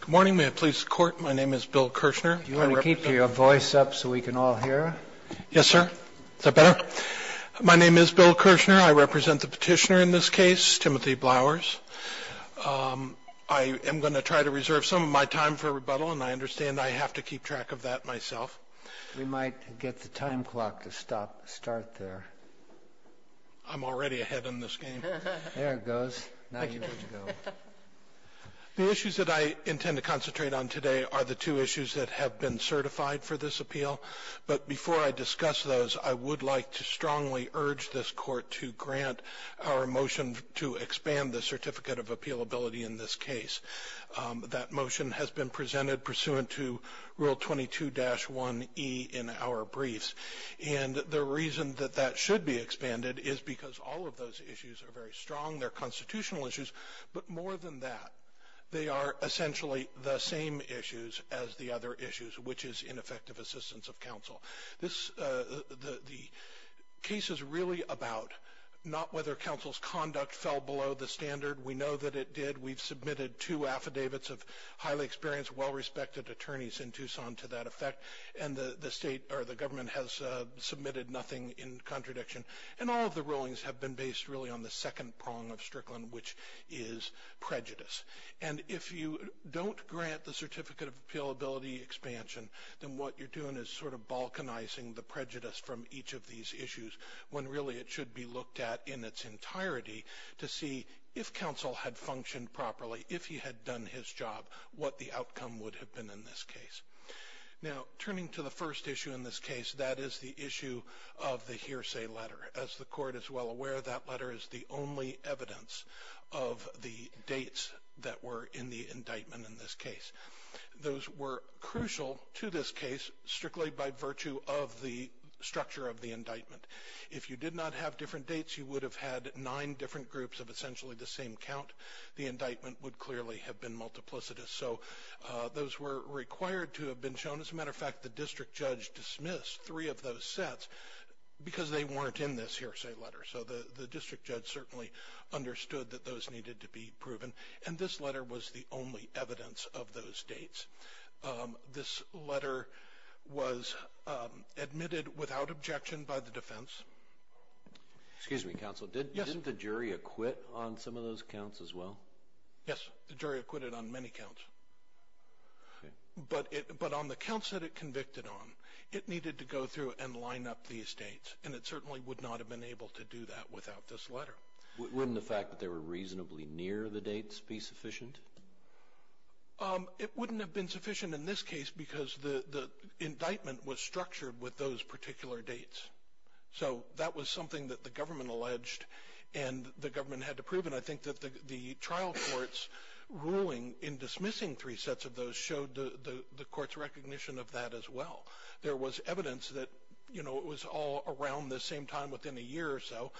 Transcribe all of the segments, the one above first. Good morning. May it please the Court, my name is Bill Kirshner. Do you want to keep your voice up so we can all hear? Yes, sir. Is that better? My name is Bill Kirshner. I represent the petitioner in this case, Timothy Blowers. I am going to try to reserve some of my time for rebuttal, and I understand I have to keep track of that myself. We might get the time clock to start there. I'm already ahead in this game. There it goes. Now you get to go. The issues that I intend to concentrate on today are the two issues that have been certified for this appeal. But before I discuss those, I would like to strongly urge this Court to grant our motion to expand the Certificate of Appealability in this case. That motion has been presented pursuant to Rule 22-1e in our briefs. And the reason that that should be expanded is because all of those issues are very strong. They're constitutional issues, but more than that, they are essentially the same issues as the other issues, which is ineffective assistance of counsel. The case is really about not whether counsel's conduct fell below the standard. We know that it did. We've submitted two affidavits of highly experienced, well-respected attorneys in Tucson to that effect, and the government has submitted nothing in contradiction. And all of the rulings have been based really on the second prong of Strickland, which is prejudice. And if you don't grant the Certificate of Appealability expansion, then what you're doing is sort of balkanizing the prejudice from each of these issues, when really it should be looked at in its entirety to see if counsel had functioned properly, if he had done his job, what the outcome would have been in this case. Now, turning to the first issue in this case, that is the issue of the hearsay letter. As the court is well aware, that letter is the only evidence of the dates that were in the indictment in this case. Those were crucial to this case strictly by virtue of the structure of the indictment. If you did not have different dates, you would have had nine different groups of essentially the same count. The indictment would clearly have been multiplicitous. So those were required to have been shown. As a matter of fact, the district judge dismissed three of those sets because they weren't in this hearsay letter. So the district judge certainly understood that those needed to be proven. And this letter was the only evidence of those dates. This letter was admitted without objection by the defense. Excuse me, counsel. Didn't the jury acquit on some of those counts as well? Yes, the jury acquitted on many counts. But on the counts that it convicted on, it needed to go through and line up these dates. And it certainly would not have been able to do that without this letter. Wouldn't the fact that they were reasonably near the dates be sufficient? It wouldn't have been sufficient in this case because the indictment was structured with those particular dates. So that was something that the government alleged and the government had to prove. And I think that the trial court's ruling in dismissing three sets of those showed the court's recognition of that as well. There was evidence that, you know, it was all around the same time within a year or so.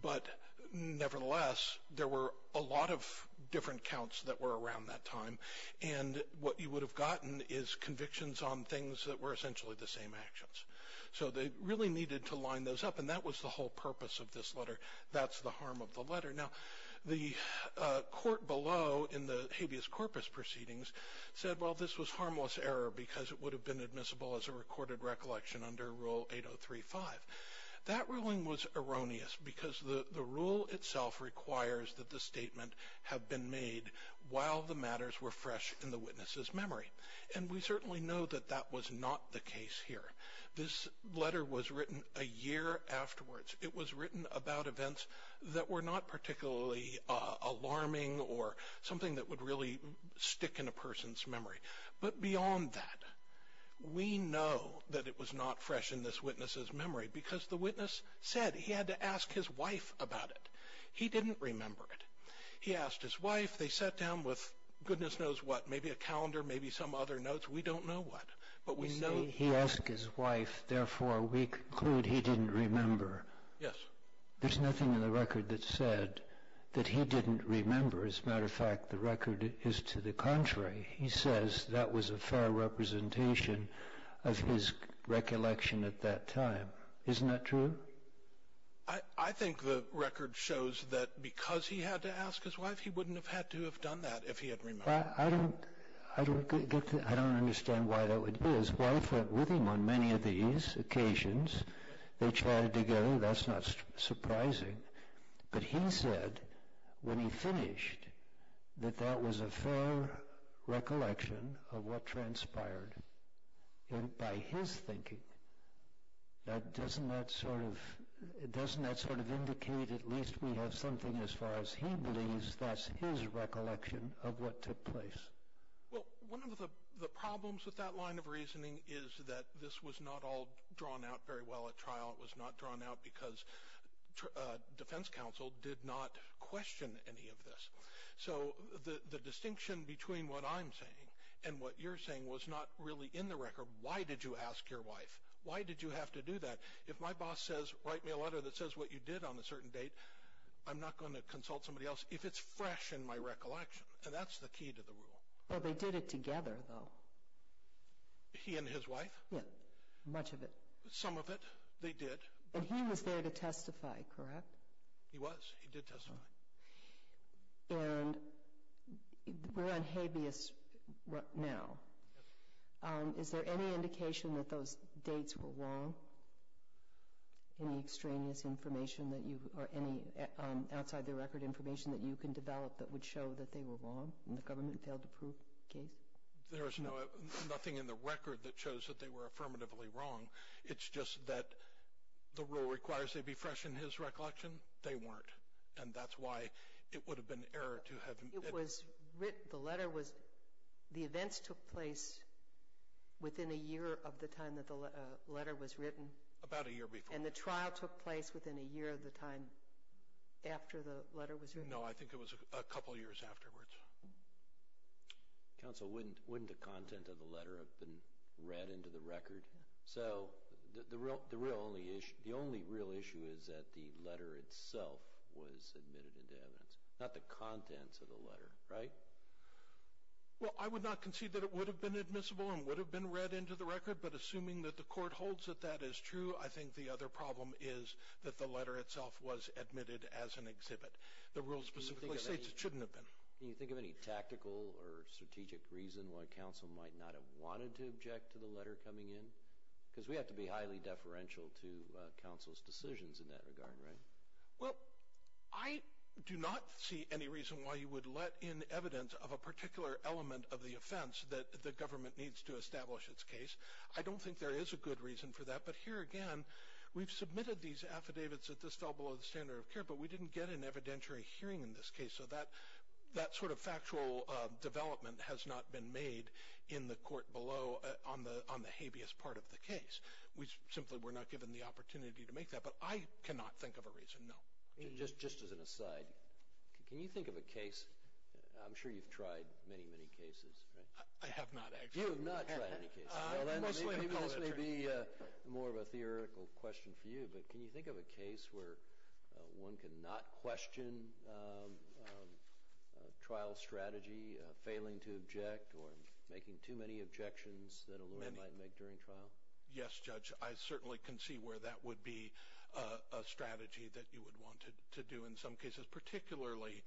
But nevertheless, there were a lot of different counts that were around that time. And what you would have gotten is convictions on things that were essentially the same actions. So they really needed to line those up. And that was the whole purpose of this letter. That's the harm of the letter. Now, the court below in the habeas corpus proceedings said, well, this was harmless error because it would have been admissible as a recorded recollection under Rule 8035. That ruling was erroneous because the rule itself requires that the statement have been made while the matters were fresh in the witness's memory. And we certainly know that that was not the case here. This letter was written a year afterwards. It was written about events that were not particularly alarming or something that would really stick in a person's memory. But beyond that, we know that it was not fresh in this witness's memory because the witness said he had to ask his wife about it. He didn't remember it. He asked his wife. They sat down with goodness knows what, maybe a calendar, maybe some other notes. We don't know what. He asked his wife. Therefore, we conclude he didn't remember. Yes. There's nothing in the record that said that he didn't remember. As a matter of fact, the record is to the contrary. He says that was a fair representation of his recollection at that time. Isn't that true? I think the record shows that because he had to ask his wife, he wouldn't have had to have done that if he had remembered. I don't understand why that would be. His wife went with him on many of these occasions. They chatted together. That's not surprising. But he said when he finished that that was a fair recollection of what transpired. By his thinking, doesn't that sort of indicate at least we have something as far as he believes that's his recollection of what took place? One of the problems with that line of reasoning is that this was not all drawn out very well at trial. It was not drawn out because defense counsel did not question any of this. So the distinction between what I'm saying and what you're saying was not really in the record. Why did you ask your wife? Why did you have to do that? If my boss says write me a letter that says what you did on a certain date, I'm not going to consult somebody else if it's fresh in my recollection. And that's the key to the rule. Well, they did it together, though. He and his wife? Yes. Much of it. Some of it they did. And he was there to testify, correct? He was. Yes, he did testify. And we're on habeas now. Yes. Is there any indication that those dates were wrong? Any extraneous information or any outside-the-record information that you can develop that would show that they were wrong and the government failed to prove the case? There is nothing in the record that shows that they were affirmatively wrong. It's just that the rule requires they be fresh in his recollection. They weren't. And that's why it would have been error to have it. The events took place within a year of the time that the letter was written? About a year before. And the trial took place within a year of the time after the letter was written? No, I think it was a couple years afterwards. Counsel, wouldn't the content of the letter have been read into the record? So the only real issue is that the letter itself was admitted into evidence, not the contents of the letter, right? Well, I would not concede that it would have been admissible and would have been read into the record. But assuming that the court holds that that is true, I think the other problem is that the letter itself was admitted as an exhibit. The rule specifically states it shouldn't have been. Can you think of any tactical or strategic reason why counsel might not have wanted to object to the letter coming in? Because we have to be highly deferential to counsel's decisions in that regard, right? Well, I do not see any reason why you would let in evidence of a particular element of the offense that the government needs to establish its case. I don't think there is a good reason for that. But here again, we've submitted these affidavits that this fell below the standard of care, but we didn't get an evidentiary hearing in this case. So that sort of factual development has not been made in the court below on the habeas part of the case. We simply were not given the opportunity to make that. But I cannot think of a reason, no. Just as an aside, can you think of a case – I'm sure you've tried many, many cases, right? I have not actually. You have not tried any cases. This may be more of a theoretical question for you, but can you think of a case where one could not question a trial strategy, failing to object or making too many objections that a lawyer might make during trial? Yes, Judge. I certainly can see where that would be a strategy that you would want to do in some cases, particularly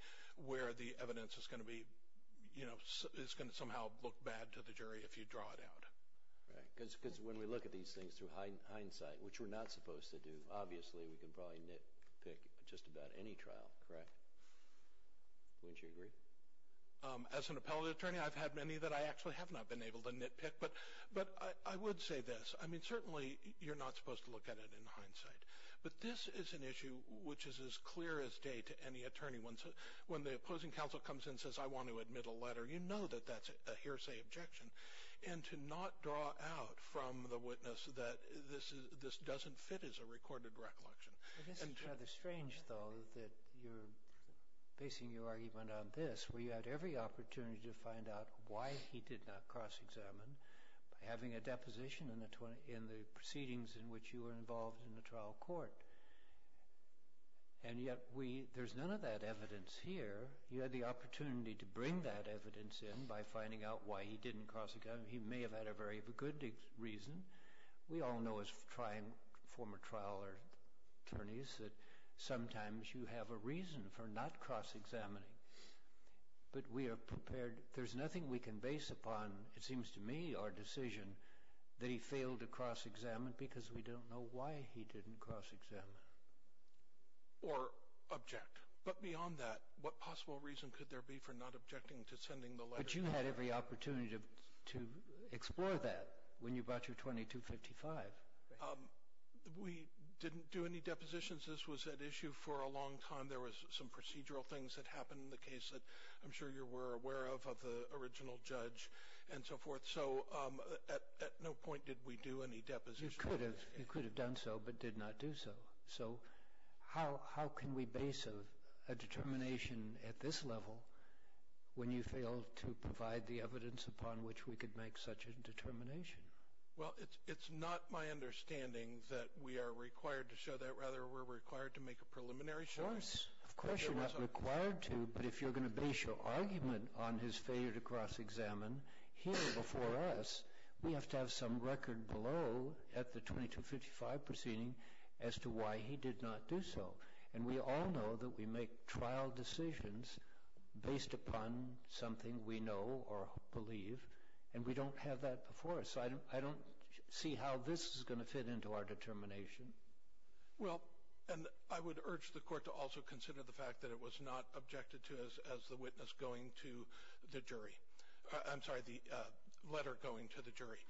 where the evidence is going to somehow look bad to the jury if you draw it out. Because when we look at these things through hindsight, which we're not supposed to do, obviously we can probably nitpick just about any trial, correct? Wouldn't you agree? As an appellate attorney, I've had many that I actually have not been able to nitpick. But I would say this. I mean, certainly you're not supposed to look at it in hindsight. But this is an issue which is as clear as day to any attorney. When the opposing counsel comes in and says, I want to admit a letter, you know that that's a hearsay objection. And to not draw out from the witness that this doesn't fit is a recorded recollection. I guess it's rather strange, though, that you're basing your argument on this, where you had every opportunity to find out why he did not cross-examine. By having a deposition in the proceedings in which you were involved in the trial court. And yet there's none of that evidence here. You had the opportunity to bring that evidence in by finding out why he didn't cross-examine. He may have had a very good reason. We all know as former trial attorneys that sometimes you have a reason for not cross-examining. But we are prepared. There's nothing we can base upon, it seems to me, our decision that he failed to cross-examine because we don't know why he didn't cross-examine. Or object. But beyond that, what possible reason could there be for not objecting to sending the letter? But you had every opportunity to explore that when you brought your 2255. We didn't do any depositions. This was at issue for a long time. There was some procedural things that happened in the case that I'm sure you were aware of, of the original judge, and so forth. So at no point did we do any depositions. You could have done so but did not do so. So how can we base a determination at this level when you failed to provide the evidence upon which we could make such a determination? Well, it's not my understanding that we are required to show that. Rather, we're required to make a preliminary showing. Of course you're not required to. But if you're going to base your argument on his failure to cross-examine here before us, we have to have some record below at the 2255 proceeding as to why he did not do so. And we all know that we make trial decisions based upon something we know or believe, and we don't have that before us. So I don't see how this is going to fit into our determination. Well, and I would urge the Court to also consider the fact that it was not objected to as the witness going to the jury. I'm sorry, the letter going to the jury.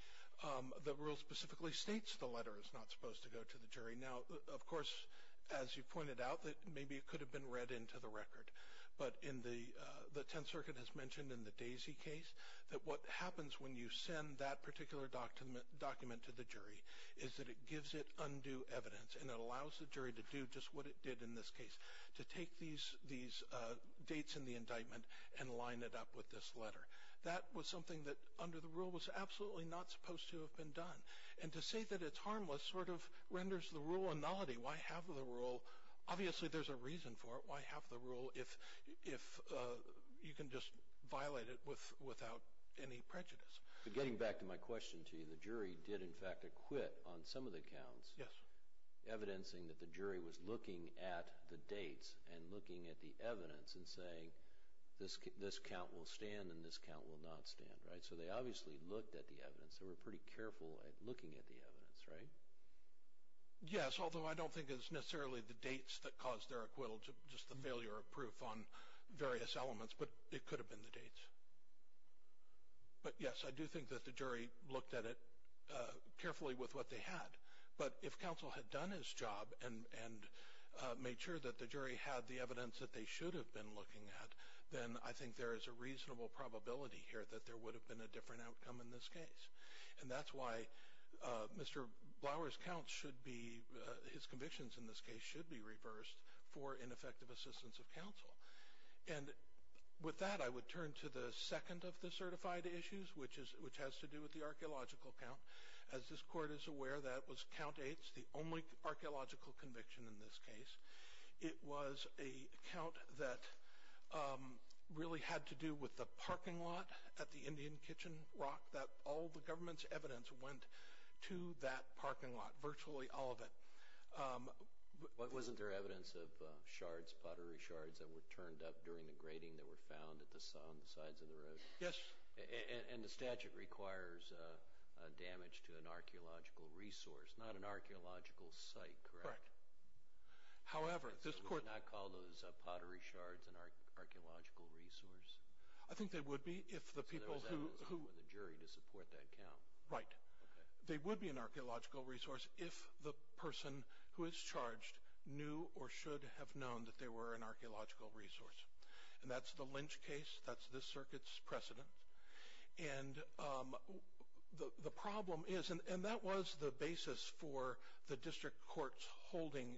The rule specifically states the letter is not supposed to go to the jury. Now, of course, as you pointed out, maybe it could have been read into the record. But the Tenth Circuit has mentioned in the Daisy case that what happens when you send that particular document to the jury is that it gives it undue evidence and it allows the jury to do just what it did in this case, to take these dates in the indictment and line it up with this letter. That was something that under the rule was absolutely not supposed to have been done. And to say that it's harmless sort of renders the rule a nullity. Why have the rule? Obviously there's a reason for it. Why have the rule if you can just violate it without any prejudice? Getting back to my question to you, the jury did in fact acquit on some of the counts. Yes. Evidencing that the jury was looking at the dates and looking at the evidence and saying this count will stand and this count will not stand, right? So they obviously looked at the evidence. They were pretty careful at looking at the evidence, right? Yes, although I don't think it's necessarily the dates that caused their acquittal, just the failure of proof on various elements. But it could have been the dates. But yes, I do think that the jury looked at it carefully with what they had. But if counsel had done his job and made sure that the jury had the evidence that they should have been looking at, then I think there is a reasonable probability here that there would have been a different outcome in this case. And that's why Mr. Blower's count should be, And with that, I would turn to the second of the certified issues, which has to do with the archaeological count. As this court is aware, that was count eight, the only archaeological conviction in this case. It was a count that really had to do with the parking lot at the Indian Kitchen Rock that all the government's evidence went to that parking lot, virtually all of it. But wasn't there evidence of shards, pottery shards, that were turned up during the grating that were found at the sides of the road? Yes. And the statute requires damage to an archaeological resource, not an archaeological site, correct? Correct. However, this court... Would they not call those pottery shards an archaeological resource? I think they would be if the people who... So there was evidence from the jury to support that count. Right. They would be an archaeological resource if the person who is charged knew or should have known that they were an archaeological resource. And that's the Lynch case. That's this circuit's precedent. And the problem is, and that was the basis for the district court's holding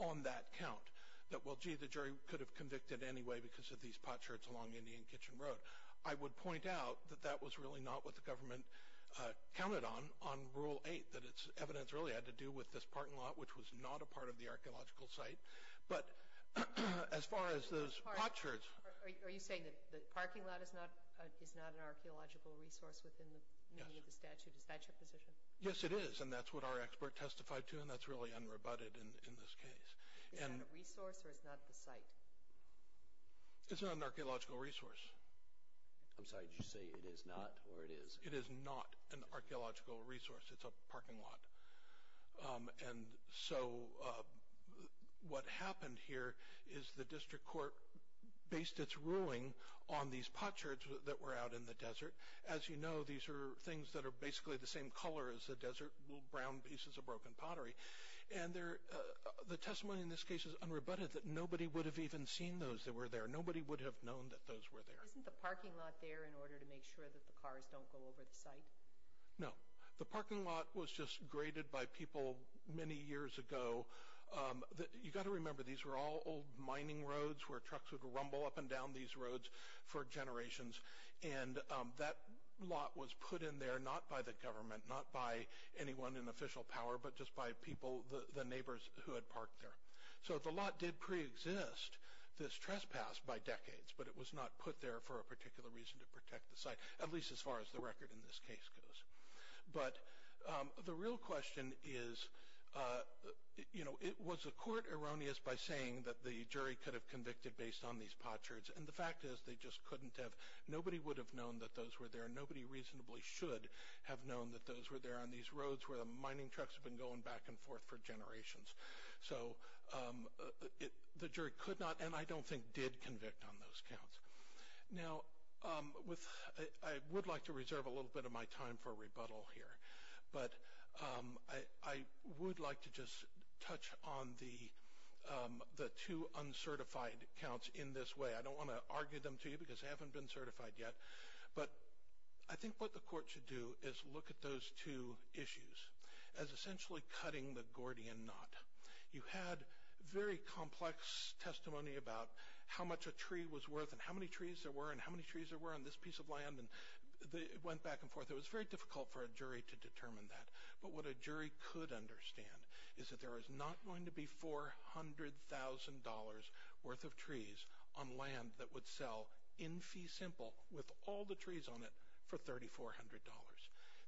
on that count, that, well, gee, the jury could have convicted anyway because of these pot shards along Indian Kitchen Road. But I would point out that that was really not what the government counted on on Rule 8, that its evidence really had to do with this parking lot, which was not a part of the archaeological site. But as far as those pot shards... Are you saying that the parking lot is not an archaeological resource within the meaning of the statute? Is that your position? Yes, it is, and that's what our expert testified to, and that's really unrebutted in this case. Is that a resource or is that the site? It's not an archaeological resource. I'm sorry, did you say it is not or it is? It is not an archaeological resource. It's a parking lot. And so what happened here is the district court based its ruling on these pot shards that were out in the desert. As you know, these are things that are basically the same color as the desert, little brown pieces of broken pottery. The testimony in this case is unrebutted, that nobody would have even seen those that were there. Nobody would have known that those were there. Isn't the parking lot there in order to make sure that the cars don't go over the site? No. The parking lot was just graded by people many years ago. You've got to remember, these were all old mining roads where trucks would rumble up and down these roads for generations, and that lot was put in there not by the government, not by anyone in official power, but just by people, the neighbors who had parked there. So the lot did preexist this trespass by decades, but it was not put there for a particular reason to protect the site, at least as far as the record in this case goes. But the real question is, you know, was the court erroneous by saying that the jury could have convicted based on these pot shards? And the fact is they just couldn't have. Nobody would have known that those were there. Nobody reasonably should have known that those were there on these roads where the mining trucks have been going back and forth for generations. So the jury could not, and I don't think did, convict on those counts. Now, I would like to reserve a little bit of my time for rebuttal here, but I would like to just touch on the two uncertified counts in this way. I don't want to argue them to you because they haven't been certified yet, but I think what the court should do is look at those two issues as essentially cutting the Gordian knot. You had very complex testimony about how much a tree was worth and how many trees there were and how many trees there were on this piece of land, and it went back and forth. It was very difficult for a jury to determine that, but what a jury could understand is that there is not going to be $400,000 worth of trees on land that would sell in fee simple with all the trees on it for $3,400.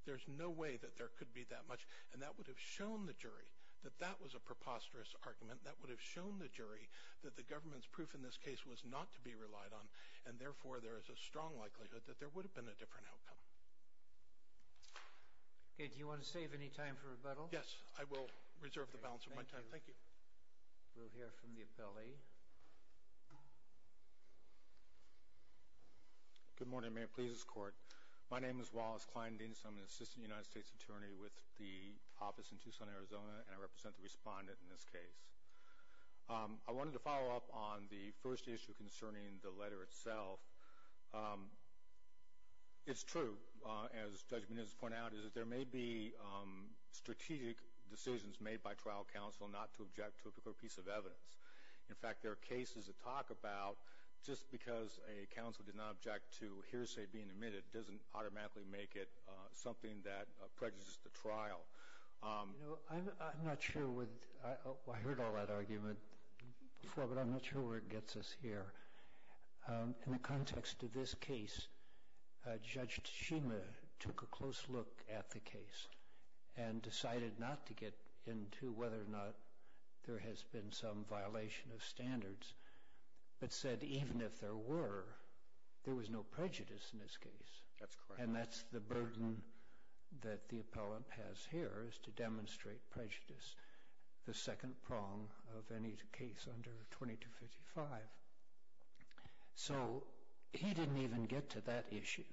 There's no way that there could be that much, and that would have shown the jury that that was a preposterous argument. That would have shown the jury that the government's proof in this case was not to be relied on, and therefore there is a strong likelihood that there would have been a different outcome. Okay, do you want to save any time for rebuttal? Yes, I will reserve the balance of my time. Thank you. We'll hear from the appellee. Good morning, Mayor. Please escort. My name is Wallace Klein-Denis. I'm an assistant United States attorney with the office in Tucson, Arizona, and I represent the respondent in this case. I wanted to follow up on the first issue concerning the letter itself. It's true, as Judge Menendez pointed out, that there may be strategic decisions made by trial counsel not to object to a particular piece of evidence. In fact, there are cases that talk about just because a counsel did not object to hearsay being admitted doesn't automatically make it something that prejudices the trial. I'm not sure where it gets us here. In the context of this case, Judge Tshima took a close look at the case and decided not to get into whether or not there has been some violation of standards, but said even if there were, there was no prejudice in this case. That's correct. And that's the burden that the appellant has here is to demonstrate prejudice, which is the second prong of any case under 2255. So he didn't even get to that issue,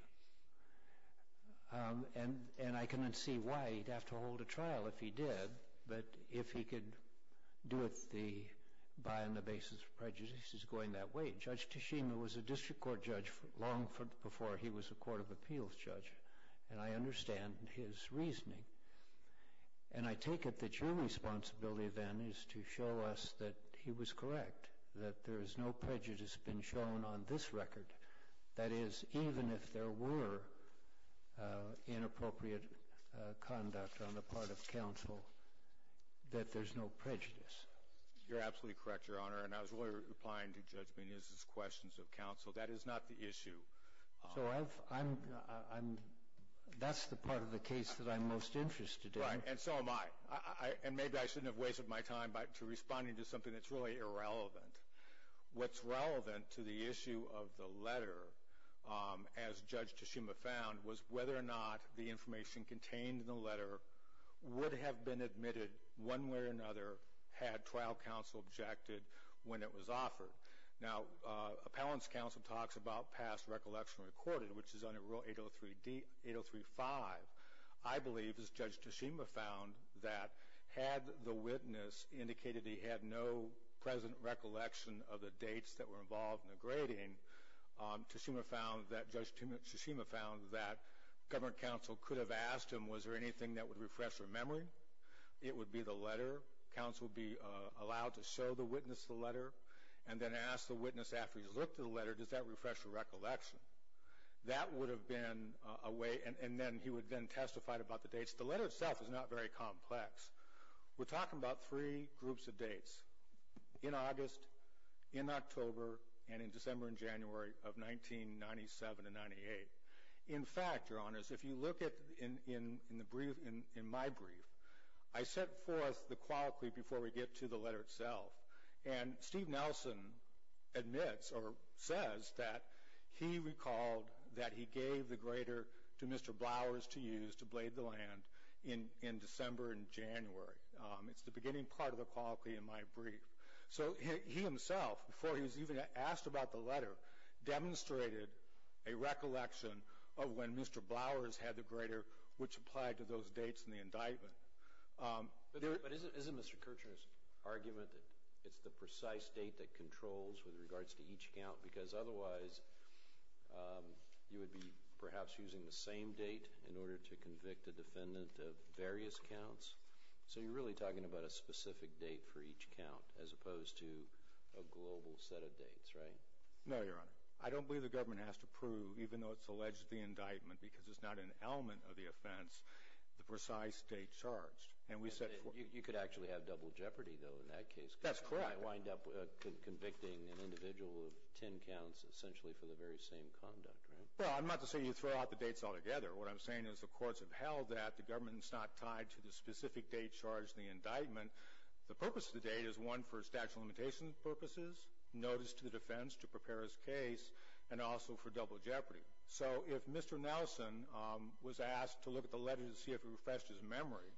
and I can see why he'd have to hold a trial if he did, but if he could do it on the basis of prejudices going that way. Judge Tshima was a district court judge long before he was a court of appeals judge, and I understand his reasoning. And I take it that your responsibility then is to show us that he was correct, that there has no prejudice been shown on this record. That is, even if there were inappropriate conduct on the part of counsel, that there's no prejudice. You're absolutely correct, Your Honor, and I was really replying to Judge Mendez's questions of counsel. That is not the issue. So that's the part of the case that I'm most interested in. Right, and so am I. And maybe I shouldn't have wasted my time responding to something that's really irrelevant. What's relevant to the issue of the letter, as Judge Tshima found, was whether or not the information contained in the letter would have been admitted one way or another had trial counsel objected when it was offered. Now, appellant's counsel talks about past recollection recorded, which is under Rule 803.5. I believe, as Judge Tshima found, that had the witness indicated he had no present recollection of the dates that were involved in the grading, Judge Tshima found that government counsel could have asked him, was there anything that would refresh their memory? It would be the letter. And then ask the witness after he's looked at the letter, does that refresh your recollection? That would have been a way, and then he would have been testified about the dates. The letter itself is not very complex. We're talking about three groups of dates, in August, in October, and in December and January of 1997 and 1998. In fact, Your Honors, if you look in my brief, I set forth the quality before we get to the letter itself. And Steve Nelson admits or says that he recalled that he gave the grader to Mr. Blowers to use to blade the land in December and January. It's the beginning part of the quality in my brief. So he himself, before he was even asked about the letter, demonstrated a recollection of when Mr. Blowers had the grader, which applied to those dates in the indictment. But isn't Mr. Kirchner's argument that it's the precise date that controls with regards to each count? Because otherwise, you would be perhaps using the same date in order to convict a defendant of various counts. So you're really talking about a specific date for each count as opposed to a global set of dates, right? No, Your Honor. I don't believe the government has to prove, even though it's alleged the indictment, because it's not an element of the offense, the precise date charged. You could actually have double jeopardy, though, in that case. That's correct. You might wind up convicting an individual of ten counts essentially for the very same conduct, right? Well, I'm not to say you throw out the dates altogether. What I'm saying is the courts have held that the government is not tied to the specific date charged in the indictment. The purpose of the date is one for statute of limitations purposes, notice to the defense to prepare his case, and also for double jeopardy. So if Mr. Nelson was asked to look at the letter to see if it refreshed his memory,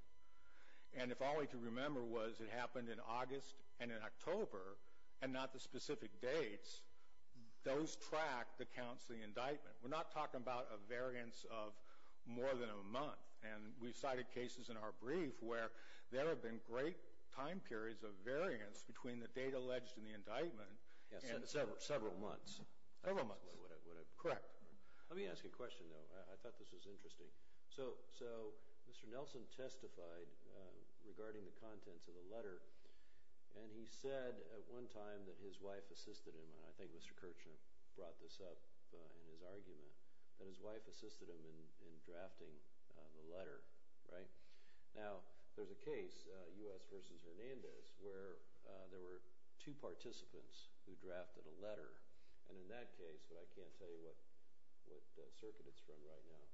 and if all he could remember was it happened in August and in October and not the specific dates, those track the counts of the indictment. We're not talking about a variance of more than a month, and we've cited cases in our brief where there have been great time periods of variance between the date alleged and the indictment. Several months. Several months. Correct. Let me ask you a question, though. I thought this was interesting. So Mr. Nelson testified regarding the contents of the letter, and he said at one time that his wife assisted him. I think Mr. Kirchner brought this up in his argument, that his wife assisted him in drafting the letter, right? Now, there's a case, U.S. v. Hernandez, where there were two participants who drafted a letter, and in that case, but I can't tell you what circuit it's from right now.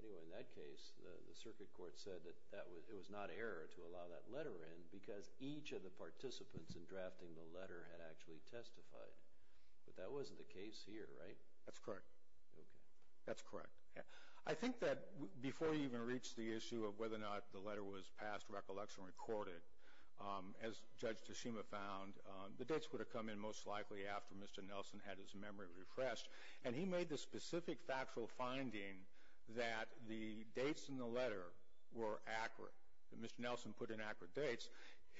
Anyway, in that case, the circuit court said that it was not error to allow that letter in because each of the participants in drafting the letter had actually testified. But that wasn't the case here, right? That's correct. Okay. That's correct. I think that before you even reached the issue of whether or not the letter was past recollection or recorded, as Judge Tashima found, the dates would have come in most likely after Mr. Nelson had his memory refreshed. And he made the specific factual finding that the dates in the letter were accurate, that Mr. Nelson put in accurate dates.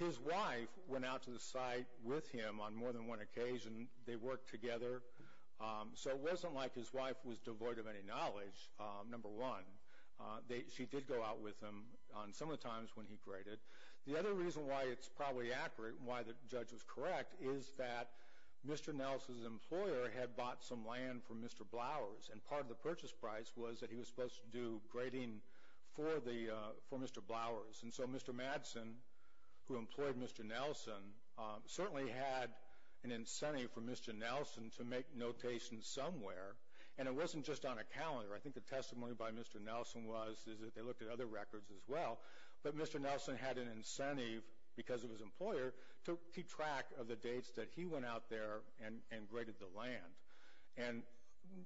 His wife went out to the site with him on more than one occasion. They worked together. So it wasn't like his wife was devoid of any knowledge, number one. She did go out with him on some of the times when he graded. The other reason why it's probably accurate, why the judge was correct, is that Mr. Nelson's employer had bought some land from Mr. Blower's, and part of the purchase price was that he was supposed to do grading for Mr. Blower's. And so Mr. Madsen, who employed Mr. Nelson, certainly had an incentive for Mr. Nelson to make notation somewhere. And it wasn't just on a calendar. I think the testimony by Mr. Nelson was that they looked at other records as well. But Mr. Nelson had an incentive, because of his employer, to keep track of the dates that he went out there and graded the land. And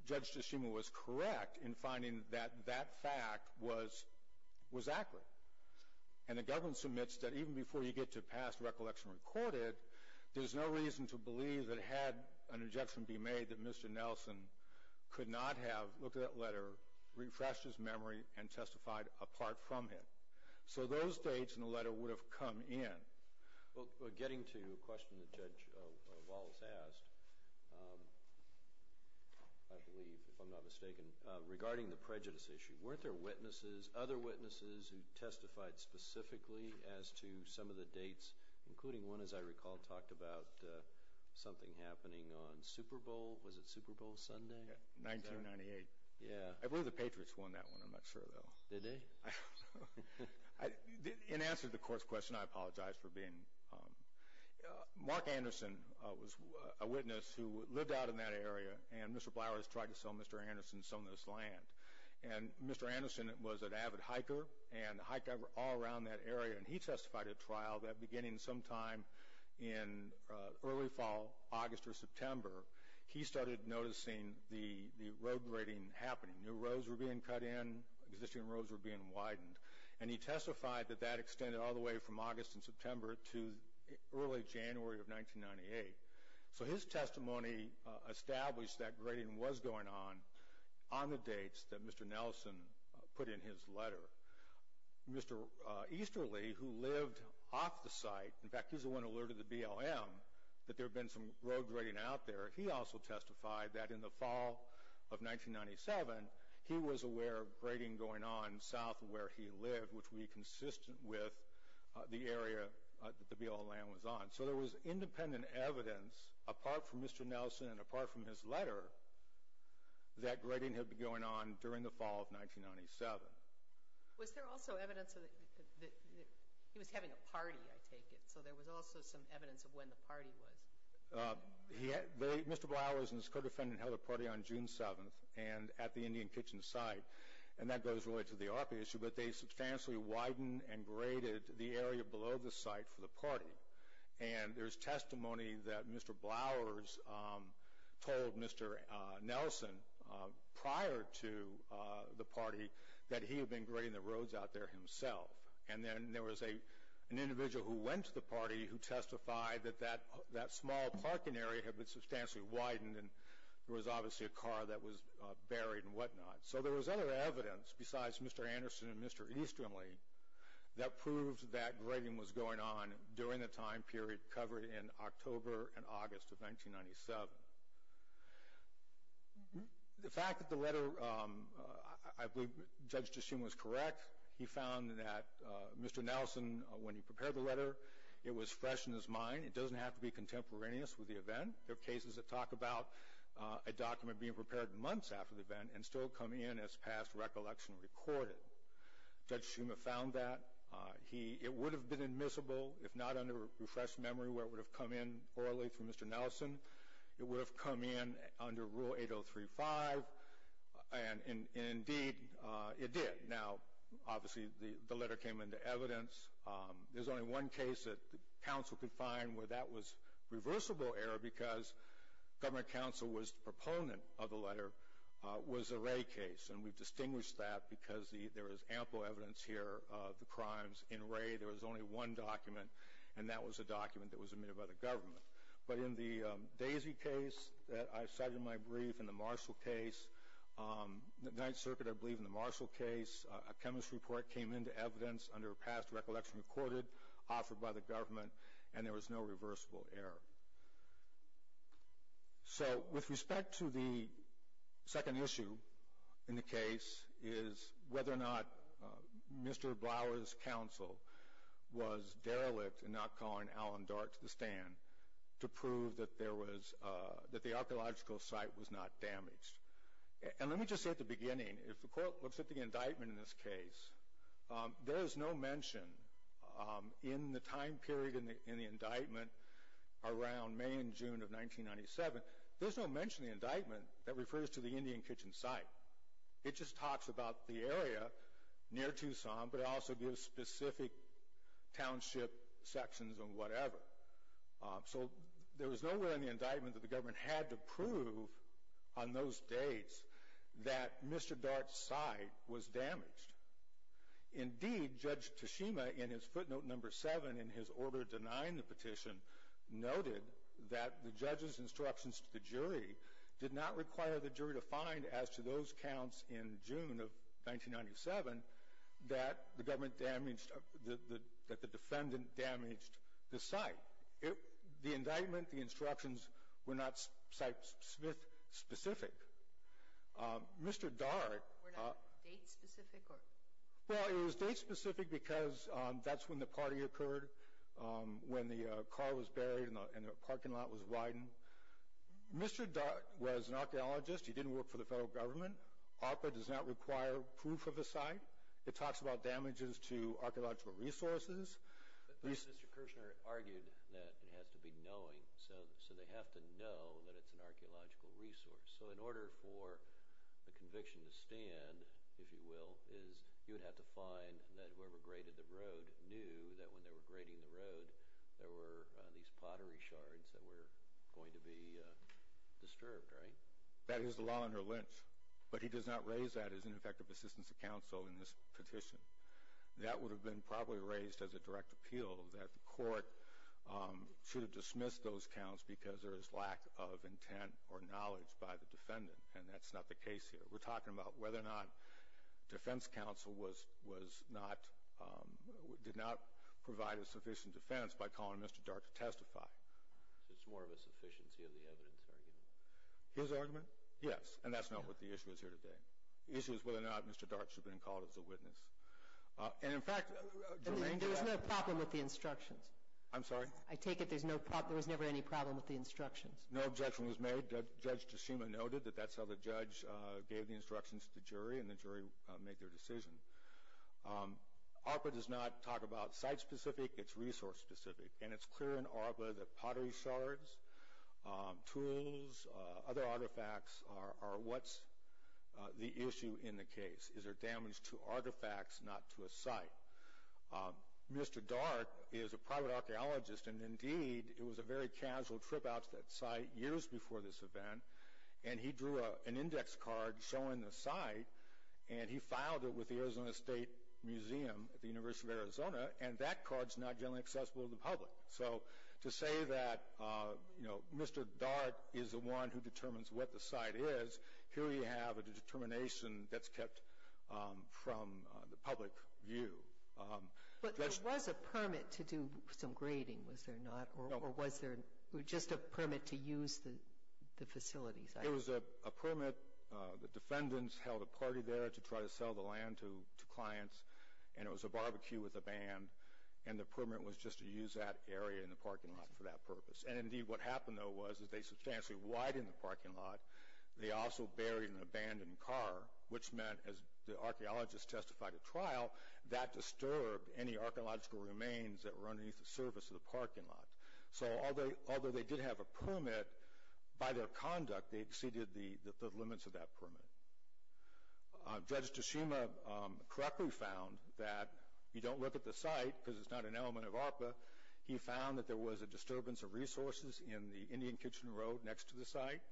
Judge Tshishima was correct in finding that that fact was accurate. And the government submits that even before you get to past recollection recorded, there's no reason to believe that had an injection be made that Mr. Nelson could not have looked at that letter, refreshed his memory, and testified apart from him. So those dates in the letter would have come in. Well, getting to a question that Judge Wallace asked, I believe, if I'm not mistaken, regarding the prejudice issue, weren't there witnesses, other witnesses, who testified specifically as to some of the dates, including one, as I recall, talked about something happening on Super Bowl, was it Super Bowl Sunday? 1998. Yeah. I believe the Patriots won that one. I'm not sure, though. Did they? In answer to the court's question, I apologize for being— Mark Anderson was a witness who lived out in that area, and Mr. Blower has tried to sell Mr. Anderson some of this land. And Mr. Anderson was an avid hiker, and hiked all around that area. And he testified at trial that beginning sometime in early fall, August or September, he started noticing the road grading happening. New roads were being cut in. Existing roads were being widened. And he testified that that extended all the way from August and September to early January of 1998. So his testimony established that grading was going on on the dates that Mr. Nelson put in his letter. Mr. Easterly, who lived off the site—in fact, he's the one who alerted the BLM that there had been some road grading out there— he also testified that in the fall of 1997, he was aware of grading going on south of where he lived, which would be consistent with the area that the BLM was on. So there was independent evidence, apart from Mr. Nelson and apart from his letter, that grading had been going on during the fall of 1997. Was there also evidence that he was having a party, I take it? So there was also some evidence of when the party was. Mr. Blower and his co-defendant held a party on June 7th at the Indian Kitchen site. And that goes, really, to the ARPA issue. But they substantially widened and graded the area below the site for the party. And there's testimony that Mr. Blower told Mr. Nelson prior to the party that he had been grading the roads out there himself. And then there was an individual who went to the party who testified that that small parking area had been substantially widened and there was obviously a car that was buried and whatnot. So there was other evidence, besides Mr. Anderson and Mr. Easterly, that proved that grading was going on during the time period covered in October and August of 1997. The fact that the letter, I believe Judge Tshishuma was correct, he found that Mr. Nelson, when he prepared the letter, it was fresh in his mind. It doesn't have to be contemporaneous with the event. There are cases that talk about a document being prepared months after the event and still come in as past recollection recorded. Judge Tshishuma found that. It would have been admissible, if not under refreshed memory, where it would have come in orally from Mr. Nelson. It would have come in under Rule 8035. And indeed, it did. Now, obviously, the letter came into evidence. There's only one case that counsel could find where that was reversible error because government counsel was the proponent of the letter was the Ray case. And we've distinguished that because there is ample evidence here of the crimes in Ray. There was only one document, and that was a document that was admitted by the government. But in the Daisy case that I cited in my brief, in the Marshall case, the Ninth Circuit, I believe, in the Marshall case, a chemistry report came into evidence under past recollection recorded, offered by the government, and there was no reversible error. So with respect to the second issue in the case is whether or not Mr. Blower's counsel was derelict in not calling Alan Dart to the stand to prove that the archaeological site was not damaged. And let me just say at the beginning, if the court looks at the indictment in this case, there is no mention in the time period in the indictment around May and June of 1997, there's no mention in the indictment that refers to the Indian Kitchen site. It just talks about the area near Tucson, but it also gives specific township sections and whatever. So there was nowhere in the indictment that the government had to prove on those dates that Mr. Dart's site was damaged. Indeed, Judge Tashima, in his footnote number seven in his order denying the petition, noted that the judge's instructions to the jury did not require the jury to find, as to those counts in June of 1997, that the defendant damaged the site. The indictment, the instructions, were not site-specific. Mr. Dart... Were not date-specific? Well, it was date-specific because that's when the party occurred, when the car was buried and the parking lot was widened. Mr. Dart was an archaeologist. He didn't work for the federal government. ARPA does not require proof of the site. It talks about damages to archaeological resources. Mr. Kirshner argued that it has to be knowing, so they have to know that it's an archaeological resource. So in order for the conviction to stand, if you will, you would have to find that whoever graded the road knew that when they were grading the road, there were these pottery shards that were going to be disturbed, right? That is the law under Lynch, but he does not raise that as an effective assistance to counsel in this petition. That would have been probably raised as a direct appeal, that the court should have dismissed those counts because there is lack of intent or knowledge by the defendant, and that's not the case here. We're talking about whether or not defense counsel did not provide a sufficient defense by calling Mr. Dart to testify. It's more of a sufficiency of the evidence, I believe. His argument? Yes, and that's not what the issue is here today. The issue is whether or not Mr. Dart should have been called as a witness. There was no problem with the instructions. I'm sorry? I take it there was never any problem with the instructions. No objection was made. Judge Tashima noted that that's how the judge gave the instructions to the jury, and the jury made their decision. ARPA does not talk about site-specific, it's resource-specific, and it's clear in ARPA that pottery shards, tools, other artifacts are what's the issue in the case. Is there damage to artifacts, not to a site? Mr. Dart is a private archaeologist, and indeed it was a very casual trip out to that site years before this event, and he drew an index card showing the site, and he filed it with the Arizona State Museum at the University of Arizona, and that card's not generally accessible to the public. So to say that Mr. Dart is the one who determines what the site is, here you have a determination that's kept from the public view. But there was a permit to do some grading, was there not, or was there just a permit to use the facilities? There was a permit. The defendants held a party there to try to sell the land to clients, and it was a barbecue with a band, and the permit was just to use that area in the parking lot for that purpose. And indeed what happened though was that they substantially widened the parking lot, they also buried an abandoned car, which meant, as the archaeologist testified at trial, that disturbed any archaeological remains that were underneath the surface of the parking lot. So although they did have a permit, by their conduct they exceeded the limits of that permit. Judge Tashima correctly found that you don't look at the site, because it's not an element of ARPA, he found that there was a disturbance of resources in the Indian Kitchen Road next to the site,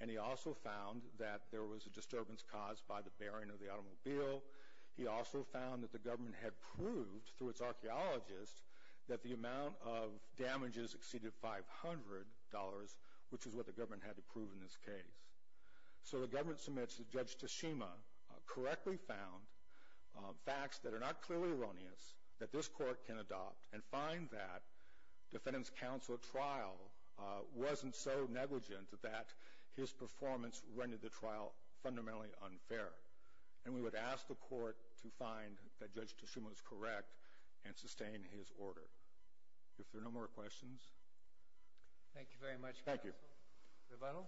and he also found that there was a disturbance caused by the burying of the automobile. He also found that the government had proved, through its archaeologists, that the amount of damages exceeded $500, which is what the government had to prove in this case. So the government submits that Judge Tashima correctly found facts that are not clearly erroneous, that this court can adopt, and find that defendant's counsel at trial wasn't so negligent that his performance rendered the trial fundamentally unfair. And we would ask the court to find that Judge Tashima is correct and sustain his order. If there are no more questions. Thank you very much, counsel. Thank you. Revato?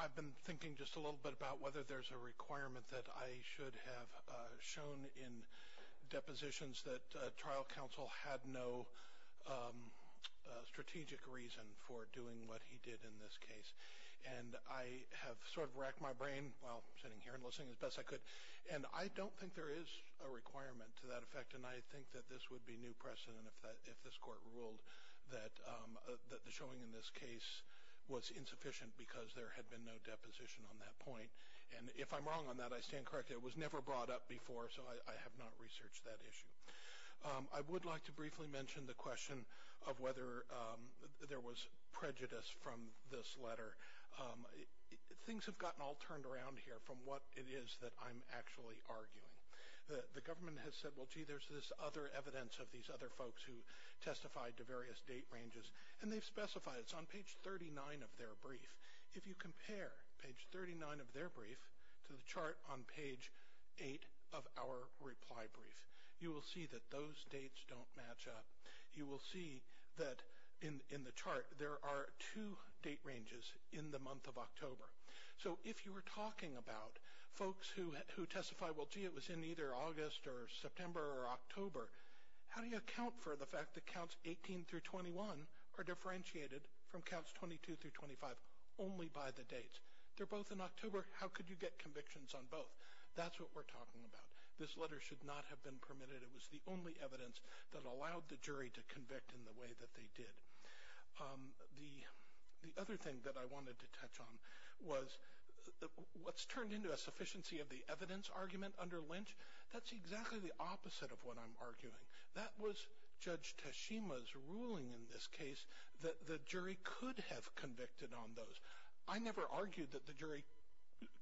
I've been thinking just a little bit about whether there's a requirement that I should have shown in depositions that trial counsel had no strategic reason for doing what he did in this case. And I have sort of racked my brain while sitting here and listening as best I could, and I don't think there is a requirement to that effect, and I think that this would be new precedent if this court ruled that the showing in this case was insufficient because there had been no deposition on that point. And if I'm wrong on that, I stand corrected. It was never brought up before, so I have not researched that issue. I would like to briefly mention the question of whether there was prejudice from this letter. Things have gotten all turned around here from what it is that I'm actually arguing. The government has said, well, gee, there's this other evidence of these other folks who testified to various date ranges, and they've specified it's on page 39 of their brief. If you compare page 39 of their brief to the chart on page 8 of our reply brief, you will see that those dates don't match up. You will see that in the chart there are two date ranges in the month of October. So if you were talking about folks who testified, well, gee, it was in either August or September or October, how do you account for the fact that counts 18 through 21 are differentiated from counts 22 through 25 only by the dates? They're both in October. How could you get convictions on both? That's what we're talking about. This letter should not have been permitted. It was the only evidence that allowed the jury to convict in the way that they did. The other thing that I wanted to touch on was what's turned into a sufficiency of the evidence argument under Lynch. That's exactly the opposite of what I'm arguing. That was Judge Tashima's ruling in this case that the jury could have convicted on those. I never argued that the jury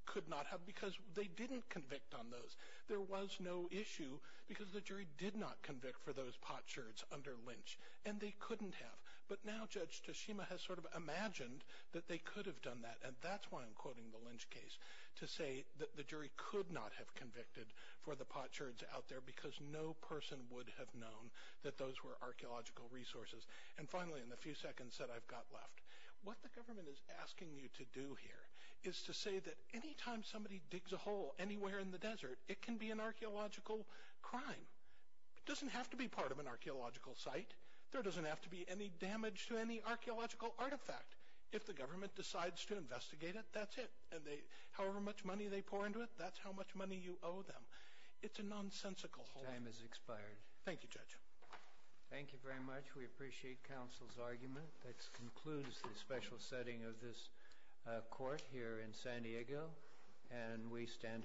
could not have because they didn't convict on those. There was no issue because the jury did not convict for those pot sherds under Lynch, and they couldn't have. But now Judge Tashima has sort of imagined that they could have done that, and that's why I'm quoting the Lynch case, to say that the jury could not have convicted for the pot sherds out there because no person would have known that those were archaeological resources. And finally, in the few seconds that I've got left, what the government is asking you to do here is to say that any time somebody digs a hole anywhere in the desert, it can be an archaeological crime. It doesn't have to be part of an archaeological site. There doesn't have to be any damage to any archaeological artifact. If the government decides to investigate it, that's it. However much money they pour into it, that's how much money you owe them. It's a nonsensical whole. Time has expired. Thank you, Judge. Thank you very much. We appreciate counsel's argument. That concludes the special setting of this court here in San Diego, and we stand adjourned.